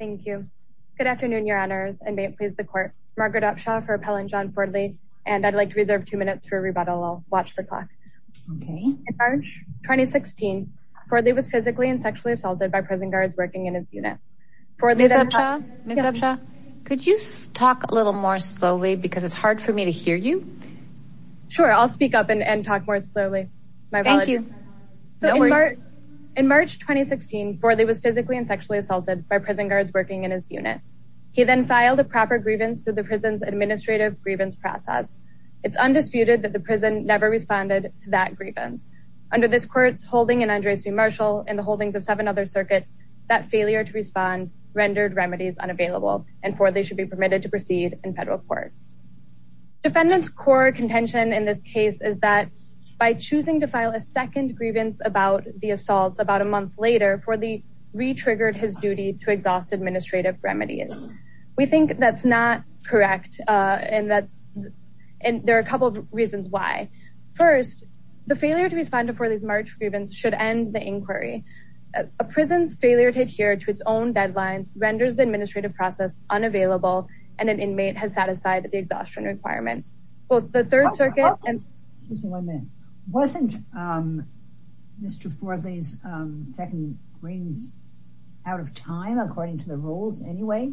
Good afternoon, your honors, and may it please the court, Margaret Upshaw for Appellant John Fordley, and I'd like to reserve two minutes for rebuttal. I'll watch the clock. In March 2016, Fordley was physically and sexually assaulted by prison guards working in his unit. Miss Upshaw, could you talk a little more slowly because it's hard for me to hear you? Sure, I'll speak up and talk more slowly. In March 2016, Fordley was physically and sexually assaulted by prison guards working in his unit. He then filed a proper grievance through the prison's administrative grievance process. It's undisputed that the prison never responded to that grievance. Under this court's holding in Andres v. Marshall and the holdings of seven other circuits, that failure to respond rendered remedies unavailable, and Fordley should be permitted to proceed in federal court. Defendant's core contention in this case is that by choosing to file a second grievance about the assaults about a month later, Fordley re-triggered his duty to exhaust administrative remedies. We think that's not correct, and there are a couple of reasons why. First, the failure to respond to Fordley's March grievance should end the inquiry. A prison's failure to adhere to its own deadlines renders the administrative process unavailable, and an inmate has sat aside at the exhaustion requirement. Wasn't Mr. Fordley's second grievance out of time, according to the rules anyway?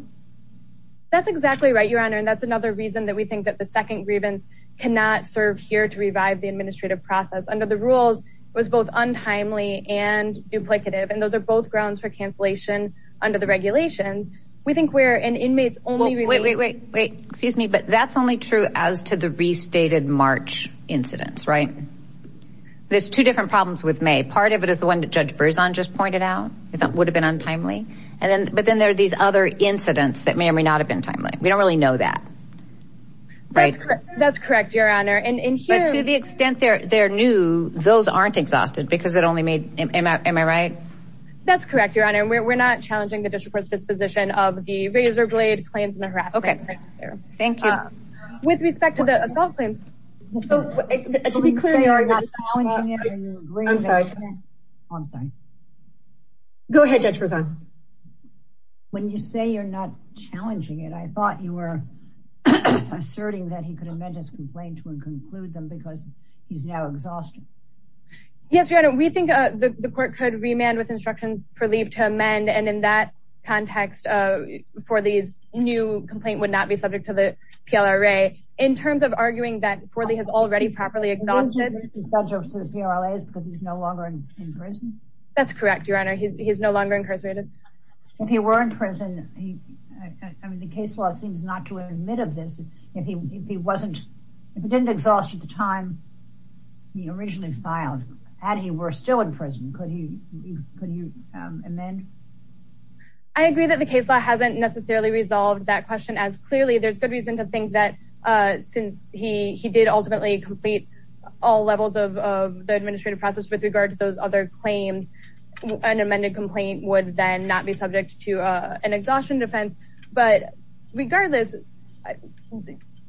That's exactly right, Your Honor, and that's another reason that we think that the second grievance cannot serve here to revive the administrative process. Under the rules, it was both untimely and duplicative, and those are both grounds for cancellation under the regulations. We think we're an inmate's only... Wait, wait, wait, wait, excuse me, but that's only true as to the restated March incidents, right? There's two different problems with May. Part of it is the one that Judge Berzon just pointed out, that it would've been untimely, but then there are these other incidents that may or may not have been timely. We don't really know that. That's correct, Your Honor, and here... But to the extent they're new, those aren't exhausted because it only made... Am I right? That's correct, Your Honor, and we're not challenging the district court's disposition of the razor blade claims and with respect to the assault claims. To be clear... I'm sorry. Go ahead, Judge Berzon. When you say you're not challenging it, I thought you were asserting that he could amend his complaint to and conclude them because he's now exhausted. Yes, Your Honor, we think the court could remand with instructions per leave to amend, and in that context, for these new complaint would not be subject to the PLRA in terms of arguing that Forley has already properly exhausted... He's not subject to the PLRA because he's no longer in prison? That's correct, Your Honor. He's no longer incarcerated. If he were in prison, I mean, the case law seems not to admit of this. If he didn't exhaust at the time he originally filed and he were still in prison, could he amend? I agree that the case law hasn't necessarily resolved that question as clearly. There's good reason to think that since he did ultimately complete all levels of the administrative process with regard to those other claims, an amended complaint would then not be subject to an exhaustion defense, but regardless,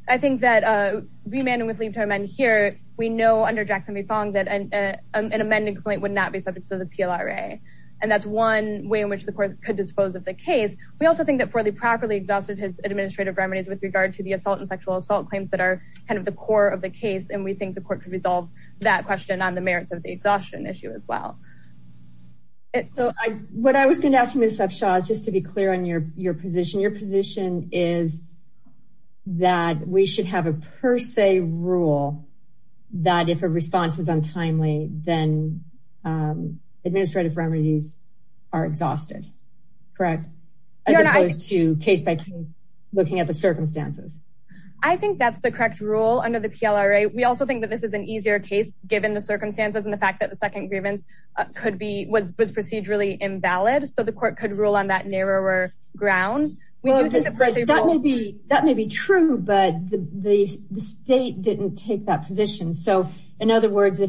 I think that remanding with leave to amend here, we know under Jackson v. Fong that an amended complaint would not be subject to the PLRA, and that's one way in which the court could dispose of the case. We also think that Forley properly exhausted his administrative remedies with regard to the assault and sexual assault claims that are kind of the core of the case, and we think the court could resolve that question on the merits of the exhaustion issue as well. So, what I was going to ask you, Ms. Cepshaw, is just to be clear on your position. Your position is that we should have a per se rule that if a response is untimely, then administrative remedies are exhausted, correct? As opposed to case by case looking at the circumstances. I think that's the correct rule under the PLRA. We also think that this is an easier case given the circumstances and the fact that the second grievance was procedurally invalid, so the court could rule on that narrower ground. That may be true, but the state didn't take that position. So, in other words,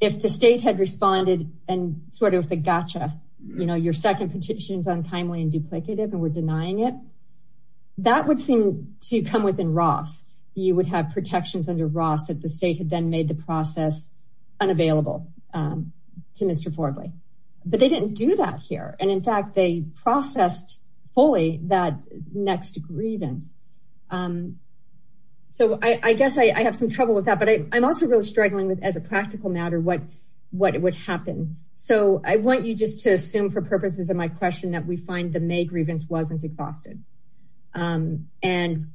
if the state had responded and sort of the gotcha, you know, your second petition is untimely and duplicative and we're denying it, that would seem to come within Ross. You would have protections under Ross if the state had then made the process unavailable to Mr. Forley, but they didn't do that here, and in fact, they processed fully that next grievance. So, I guess I have some trouble with that, but I'm also really struggling with as a practical matter what would happen. So, I want you just to assume for purposes of my question that we find the May grievance wasn't exhausted. And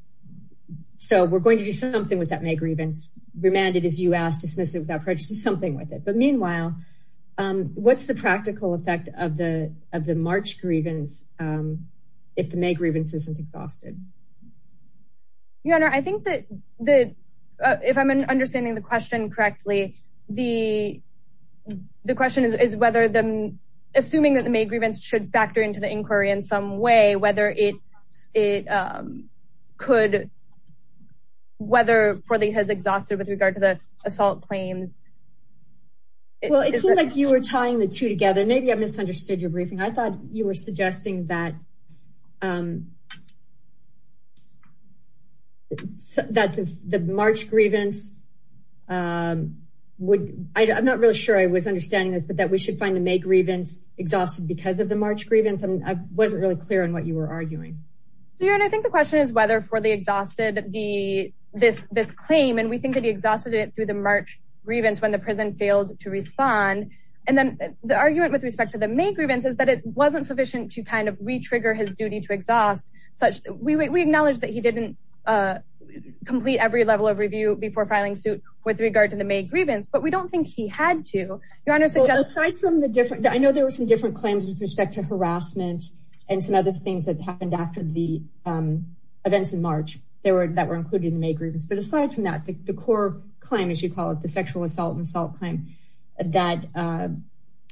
so, we're going to do something with that May grievance, remand it as you asked, dismiss it without prejudice, do something with it. But meanwhile, what's the practical effect of the March grievance if the May grievance isn't exhausted? Your Honor, I think that if I'm understanding the question correctly, the question is whether assuming that the May grievance should factor into the inquiry in some way, whether it could, whether Forley has exhausted with regard to the assault claims. Well, it seems like you were tying the two together. Maybe I misunderstood your briefing. I thought you were suggesting that the March grievance would, I'm not really sure I was understanding this, but that we should find the May grievance exhausted because of the March grievance. I wasn't really clear on what you were arguing. So, Your Honor, I think the question is whether Forley exhausted this claim, and we think that he exhausted it through the March grievance when the prison failed to respond. And then the argument with respect to the May grievance is it wasn't sufficient to kind of re-trigger his duty to exhaust such, we acknowledge that he didn't complete every level of review before filing suit with regard to the May grievance, but we don't think he had to. I know there were some different claims with respect to harassment and some other things that happened after the events in March that were included in the May grievance. But aside from that, the core claim, as you call it, the sexual assault and assault claim that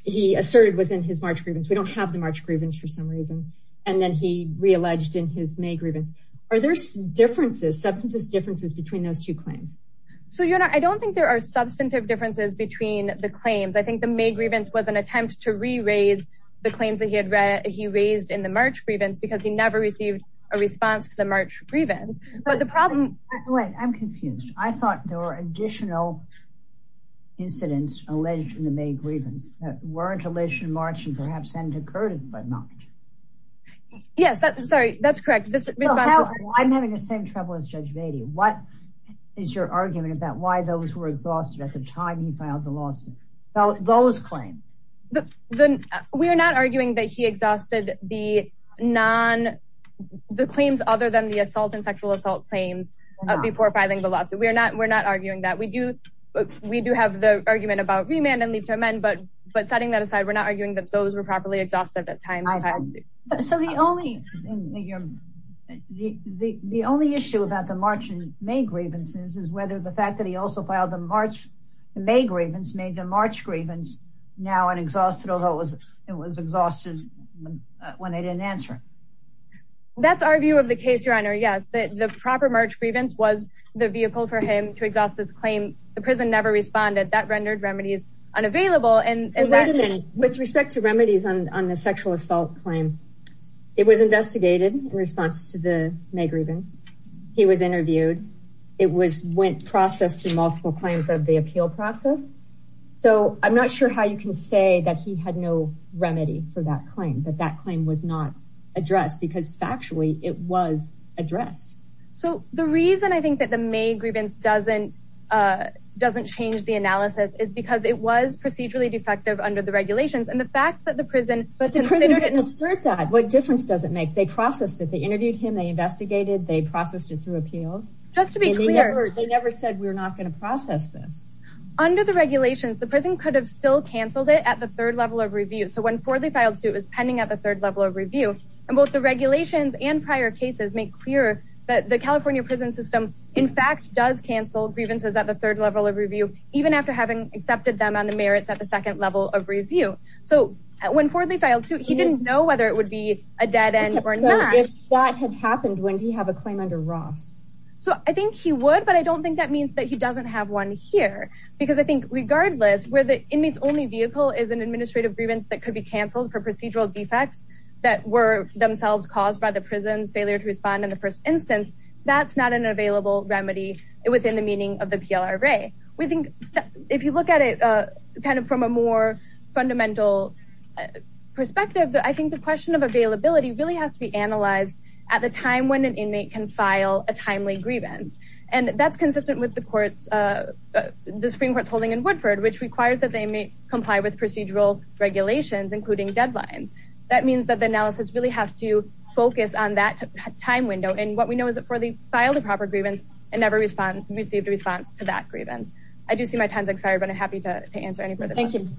he asserted was in his March grievance. We don't have the March grievance for some reason. And then he re-alleged in his May grievance. Are there differences, substantive differences between those two claims? So, Your Honor, I don't think there are substantive differences between the claims. I think the May grievance was an attempt to re-raise the claims that he raised in the March grievance because he never received a response to the March grievance. I'm confused. I thought there were additional incidents alleged in the May grievance that weren't alleged in March and perhaps hadn't occurred in March. Yes, that's correct. I'm having the same trouble as Judge Beatty. What is your argument about why those were exhausted at the time he filed the lawsuit? Those claims. We are not arguing that he exhausted the non, the claims other than the assault and sexual assault claims before filing the lawsuit. We're not, we're not arguing that. We do, we do have the argument about remand and leave to amend, but, but setting that aside, we're not arguing that those were properly exhausted at that time. So the only, the only issue about the March and May grievances is whether the fact that he also filed the March and May grievance made the March grievance now an exhausted, although it was exhausted when they didn't answer it. That's our view of the case, Your Honor. Yes, the proper March grievance was the vehicle for him to exhaust this claim. The prison never responded. That rendered remedies unavailable and- Wait a minute. With respect to remedies on the sexual assault claim, it was investigated in response to the May grievance. He was interviewed. It was went processed through multiple claims of the appeal process. So I'm not sure how you can say that he had no remedy for that claim, that that claim was not addressed because factually it was addressed. So the reason I think that the May grievance doesn't, doesn't change the analysis is because it was procedurally defective under the regulations and the fact that the prison- But the prison didn't assert that. What difference does it make? They processed it. They interviewed him. They investigated. They processed it through appeals. Just to be clear- They never said we're not going to process this. Under the regulations, the prison could have still canceled it at the third level of review. So when Fordley filed suit, it was pending at the third level of review. And both the regulations and prior cases make clear that the California prison system, in fact, does cancel grievances at the third level of review, even after having accepted them on the merits at the second level of review. So when Fordley filed suit, he didn't know whether it would be a dead end or not. So if that had happened, would he have a claim under Ross? So I think he would, but I don't think that means that he doesn't have one here because I think regardless, where the inmate's only vehicle is an administrative grievance that could be canceled for procedural defects that were themselves caused by the prison's failure to respond in the first instance, that's not an available remedy within the meaning of the PLRA. We think if you look at it kind of from a more fundamental perspective, I think the question of availability really has to be analyzed at the time when an inmate can file a timely grievance. And that's consistent with the courts, the Supreme Court's holding in Woodford, which requires that they may comply with procedural regulations, including deadlines. That means that the analysis really has to focus on that time window. And what we know is that for the file, the proper grievance and never received a response to that grievance. I do see my time's expired, but I'm happy to answer any further. Thank you.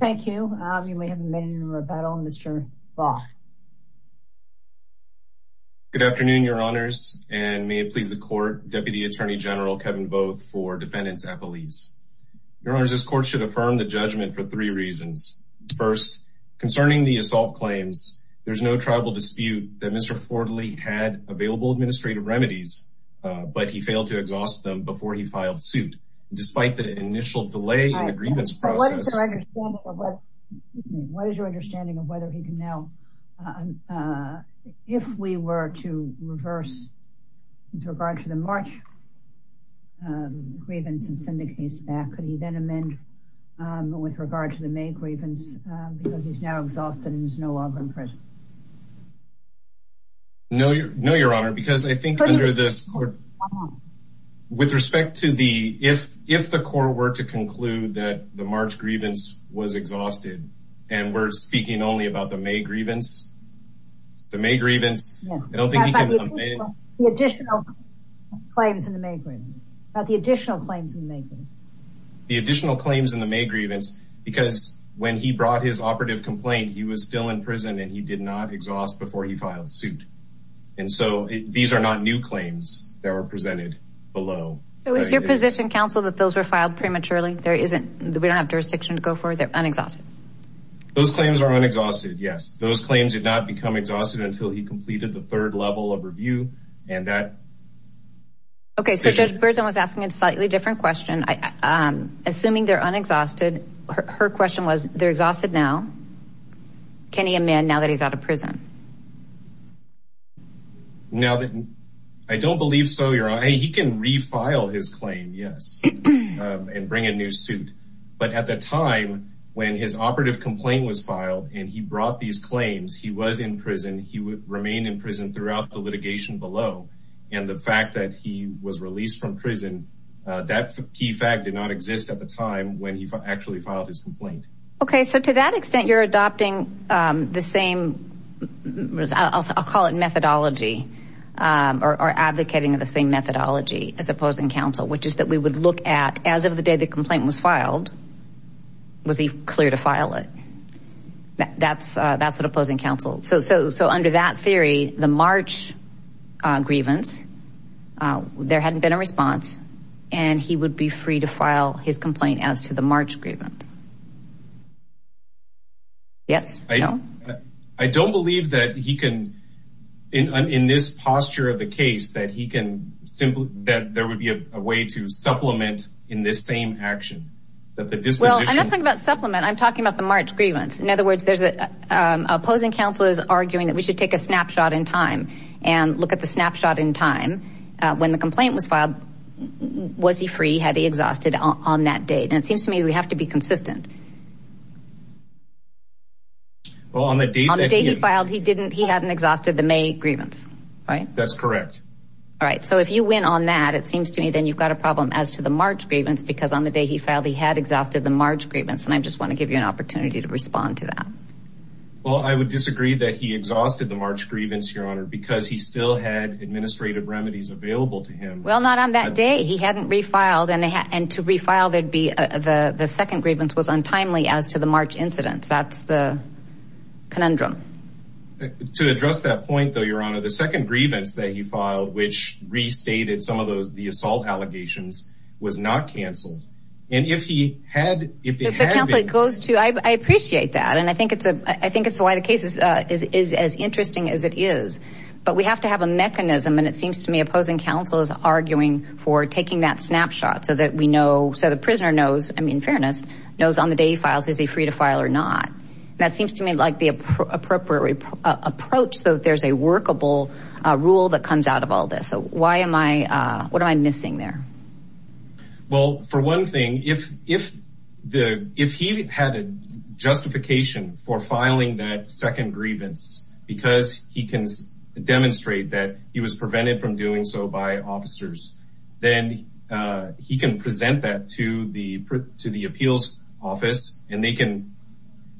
Thank you. You may have a minute Deputy Attorney General Kevin Booth for defendants appellees. Your Honor, this court should affirm the judgment for three reasons. First, concerning the assault claims, there's no tribal dispute that Mr. Fordley had available administrative remedies, but he failed to exhaust them before he filed suit. Despite the initial delay in the grievance process. What is your understanding of whether he can now, if we were to reverse with regard to the March grievance and send the case back, could he then amend with regard to the May grievance because he's now exhausted and is no longer in prison? No, your Honor, because I think under this court, with respect to the, if the court were to conclude that the March grievance was exhausted and we're speaking only about the May grievance, the May grievance, I don't think he can amend it. The additional claims in the May grievance. About the additional claims in the May grievance. The additional claims in the May grievance, because when he brought his operative complaint, he was still in prison and he did not exhaust before he filed suit. And so these are not new claims that were presented below. So is your position, counsel, that those were filed prematurely? There isn't, we don't have jurisdiction to go forward. They're unexhausted. Those claims are unexhausted. Yes. Those claims did not become exhausted until he completed the third level of review. And that. Okay. So Judge Birdson was asking a slightly different question. Assuming they're unexhausted. Her question was, they're exhausted now. Can he amend now that he's out of prison? Now that I don't believe so, your Honor, he can refile his claim. Yes. And bring a new suit. But at the time when his operative complaint was filed and he brought these claims, he was in prison. He remained in prison throughout the litigation below. And the fact that he was released from prison, that key fact did not exist at the time when he actually filed his complaint. Okay. So to that extent, you're adopting the same, I'll call it methodology or advocating of the same methodology as opposing counsel, which is that we would look at as of the day complaint was filed, was he clear to file it? That's an opposing counsel. So under that theory, the March grievance, there hadn't been a response and he would be free to file his complaint as to the March grievance. Yes. I don't believe that he can, in this posture of the case, that there would be a way to supplement in this same action. Well, I'm not talking about supplement. I'm talking about the March grievance. In other words, there's opposing counselors arguing that we should take a snapshot in time and look at the snapshot in time when the complaint was filed. Was he free? Had he exhausted on that date? And it seems to me we have to be consistent. Well, on the day he filed, he hadn't exhausted the May grievance, right? That's correct. All right. So if you win on that, it seems to me then you've got a problem as to the March grievance, because on the day he filed, he had exhausted the March grievance. And I just want to give you an opportunity to respond to that. Well, I would disagree that he exhausted the March grievance, Your Honor, because he still had administrative remedies available to him. Well, not on that day. He hadn't refiled and to refile, the second grievance was untimely as to the March incident. That's the conundrum. To address that point, though, Your Honor, the second grievance that he filed, which restated some of those the assault allegations was not canceled. And if he had, if it goes to, I appreciate that. And I think it's a I think it's why the case is as interesting as it is. But we have to have a mechanism. And it seems to me opposing counsel is arguing for taking that snapshot so that we know. So the prisoner knows. I mean, fairness knows on the day he files, is he free to file or not? That seems to me like the appropriate approach. So there's a workable rule that comes out of all this. So why am I what am I missing there? Well, for one thing, if if the if he had a justification for filing that second grievance, because he can demonstrate that he was prevented from doing so by officers, then he can present that to the to the appeals office and they can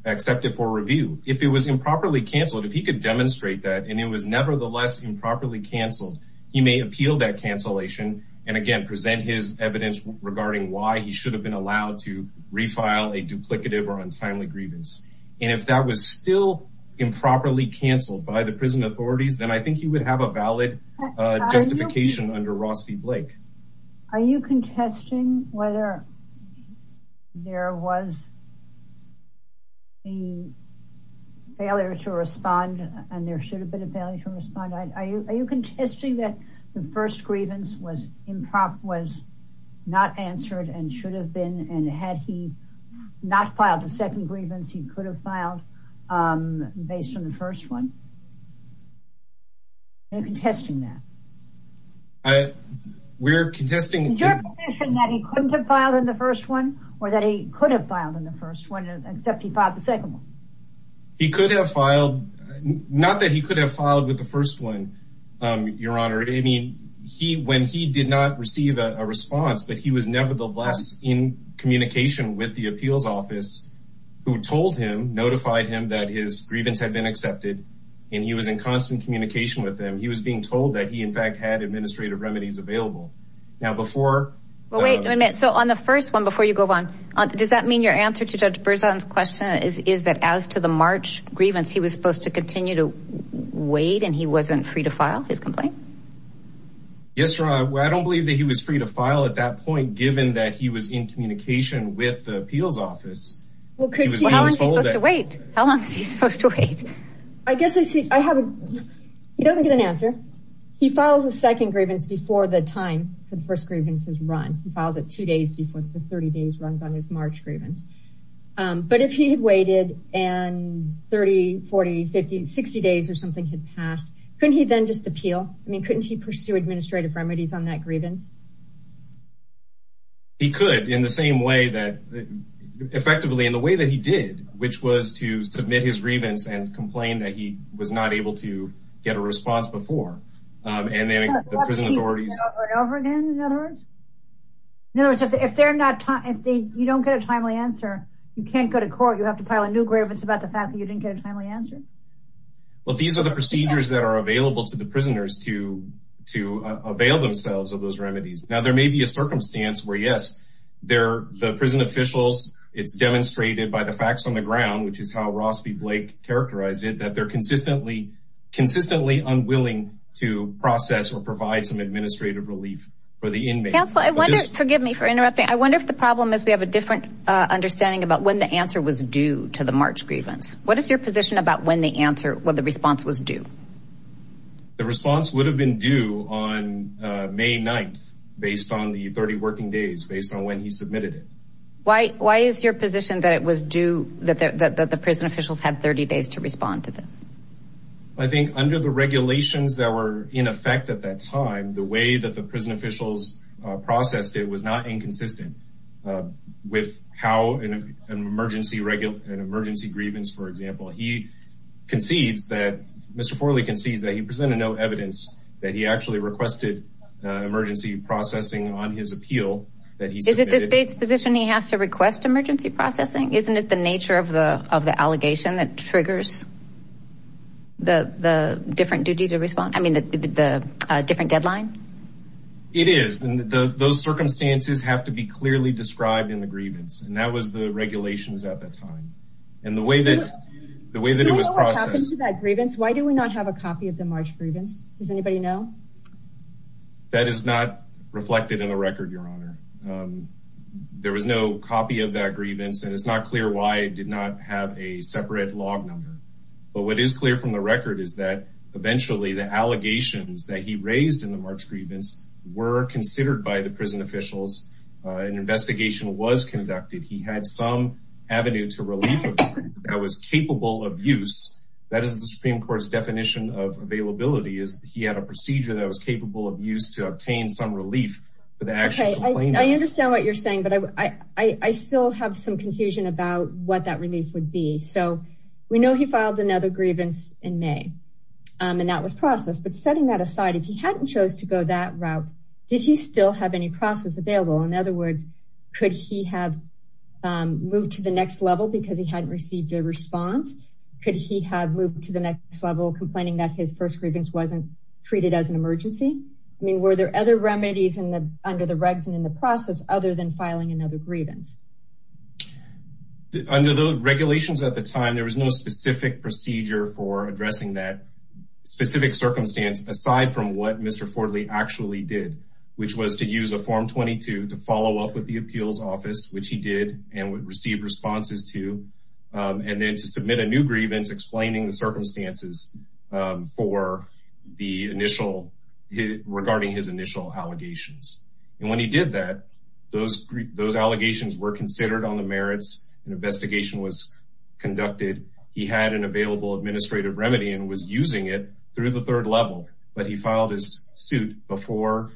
accept it for review. If it was improperly canceled, if he could demonstrate that and it was nevertheless improperly canceled, he may appeal that cancellation and again present his evidence regarding why he should have been allowed to refile a duplicative or untimely grievance. And if that was still improperly canceled by the prison authorities, then I think he would have a valid justification under Ross Blake. Are you contesting whether there was a failure to respond and there should have been a failure to respond? Are you contesting that the first grievance was improper, was not answered and should have been and had he not filed the second grievance he could have filed based on the first one? Are you contesting that? We're contesting that he couldn't have filed in the first one or that he could have filed in the first one, except he filed the second one. He could have filed, not that he could have filed with the first one, your honor. I mean, he when he did not receive a response, but he was nevertheless in communication with the appeals office who told him, notified him that his grievance had been accepted and he was in constant communication with them. He was being told that he in fact had administrative remedies available. Now before, well wait a minute. So on the first one, before you go on, does that mean your answer to Judge Berzon's question is, is that as to the March grievance, he was supposed to continue to wait and he wasn't free to file his complaint? Yes, your honor. I don't believe that was free to file at that point, given that he was in communication with the appeals office. How long is he supposed to wait? How long is he supposed to wait? He doesn't get an answer. He files a second grievance before the time the first grievance is run. He files it two days before the 30 days runs on his March grievance. But if he had waited and 30, 40, 50, 60 days or something had passed, couldn't he then just appeal? I mean, couldn't he pursue administrative remedies on that grievance? He could, in the same way that, effectively in the way that he did, which was to submit his grievance and complain that he was not able to get a response before. And then the prison authorities... In other words, if they're not, if they, you don't get a timely answer, you can't go to court. You have to file a new grievance about the fact that you didn't get a timely answer. Well, these are the procedures that are available to the prisoners to to avail themselves of those remedies. Now, there may be a circumstance where, yes, they're the prison officials. It's demonstrated by the facts on the ground, which is how Ross v. Blake characterized it, that they're consistently, consistently unwilling to process or provide some administrative relief for the inmates. Counsel, I wonder, forgive me for interrupting, I wonder if the problem is we have a different understanding about when the answer was due to the March grievance. What is your position about when the answer, when the response was due? The response would have been due on May 9th, based on the 30 working days, based on when he submitted it. Why is your position that it was due, that the prison officials had 30 days to respond to this? I think under the regulations that were in effect at that time, the way that the prison officials processed it was not inconsistent with how an emergency grievance, for example, he concedes that, Mr. Forley concedes that he presented no evidence that he actually requested emergency processing on his appeal that he submitted. Is it the state's position he has to request emergency processing? Isn't it the nature of the of the allegation that triggers the different duty to respond? I mean, the different deadline? It is, and those circumstances have to be clearly described in the grievance, and that was the regulations at that time. And the way that it was processed. Do you know what happened to that grievance? Why do we not have a copy of the March grievance? Does anybody know? That is not reflected in the record, Your Honor. There was no copy of that grievance, and it's not clear why it did not have a separate log number. But what is clear from the record is that eventually the allegations that he raised in the March grievance were considered by the prison officials. An investigation was conducted. He had some avenue to relief that was capable of use. That is the Supreme Court's definition of availability is he had a procedure that was capable of use to obtain some relief. I understand what you're saying, but I still have some confusion about what that relief would be. So we know he filed another grievance in May, and that was processed. But setting that aside, if he hadn't chose to go that route, did he still have any process available? In other words, could he have moved to the next level because he hadn't received a response? Could he have moved to the next level, complaining that his first grievance wasn't treated as an emergency? I mean, were there other remedies under the regs and in the process, other than filing another grievance? Under the regulations at the time, there was no specific procedure for addressing that specific circumstance, aside from what Mr. Fortley actually did, which was to use a form 22 to follow up with the appeals office, which he did and would receive responses to, and then to submit a new grievance explaining the circumstances regarding his initial allegations. And when he did that, those allegations were considered on the merits. An investigation was conducted. He had an available administrative remedy and was using it through the third level, but he filed his suit before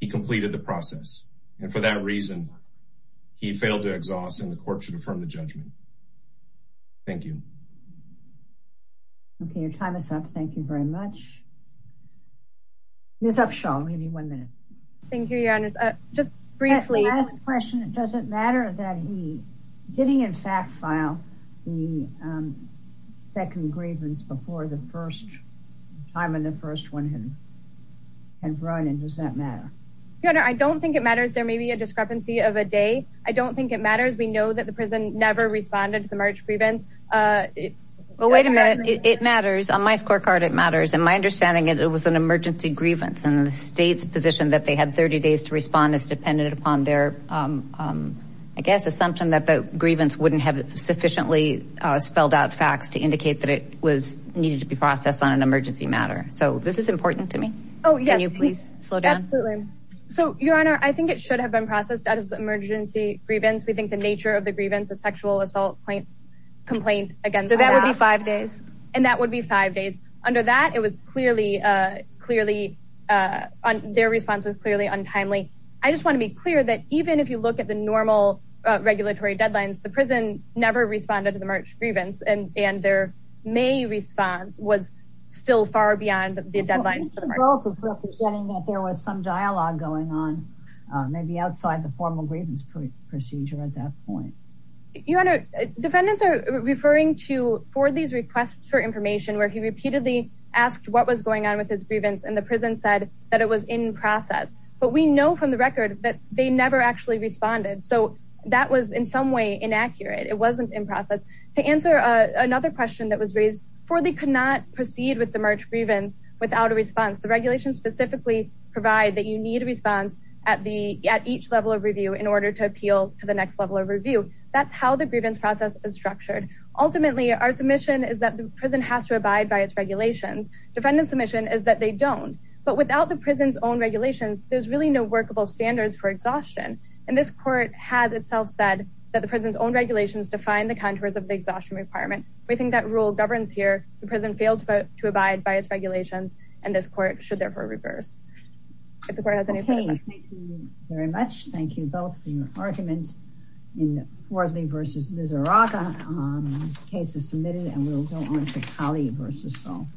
he completed the process. And for that reason, he failed to exhaust and the court should affirm the judgment. Thank you. Okay, your time is up. Thank you very much. Ms. Upshaw, we'll give you one minute. Thank you, your honor. Just briefly. Last question. Does it matter that he, did he in fact file the second grievance before the first time in the first one? And does that matter? Your honor, I don't think it matters. There may be a discrepancy of a day. I don't think it matters. We know that the prison never responded to the merge grievance. Well, wait a minute. It matters. On my scorecard, it matters. And my understanding is it was an emergency grievance and the state's position that they had 30 days to respond is dependent upon their, I guess, assumption that the grievance wouldn't have sufficiently spelled out facts to indicate that it was needed to be processed on an emergency matter. So this is important to me. Oh, yes. Can you please slow down? Absolutely. So your honor, I think it should have been processed as emergency grievance. We think the nature of the grievance, the sexual assault complaint against- So that would be five days? And that would be five days. Under that, it was clearly, clearly, their response was clearly untimely. I just want to be clear that even if you look at the normal regulatory deadlines, the prison never responded to the merge grievance, and their May response was still far beyond the deadlines for the merge grievance. Well, this is also representing that there was some dialogue going on, maybe outside the formal grievance procedure at that point. Your honor, defendants are referring to four of these requests for information where he repeatedly asked what was going on with his grievance and the prison said that it was in process. But we know from the record that they never actually responded. So that was in some way inaccurate. It wasn't in process. To answer another question that was raised, four, they could not proceed with the merge grievance without a response. The regulations specifically provide that you need a response at each level of review in order to appeal to the next level of review. That's how the grievance process is structured. Ultimately, our submission is that the prison has to abide by its regulations. Defendant submission is that they don't. But without the prison's own regulations, there's really no workable standards for exhaustion. And this court has itself said that the prison's own regulations define the contours of the exhaustion requirement. We think that rule governs here. The prison failed to abide by its regulations, and this court should therefore reverse. If the court has any questions. Okay, thank you very much. Thank you both for your arguments in Fordley v. Lizarraga. Case is submitted, and we'll go on to Kali v. Saul.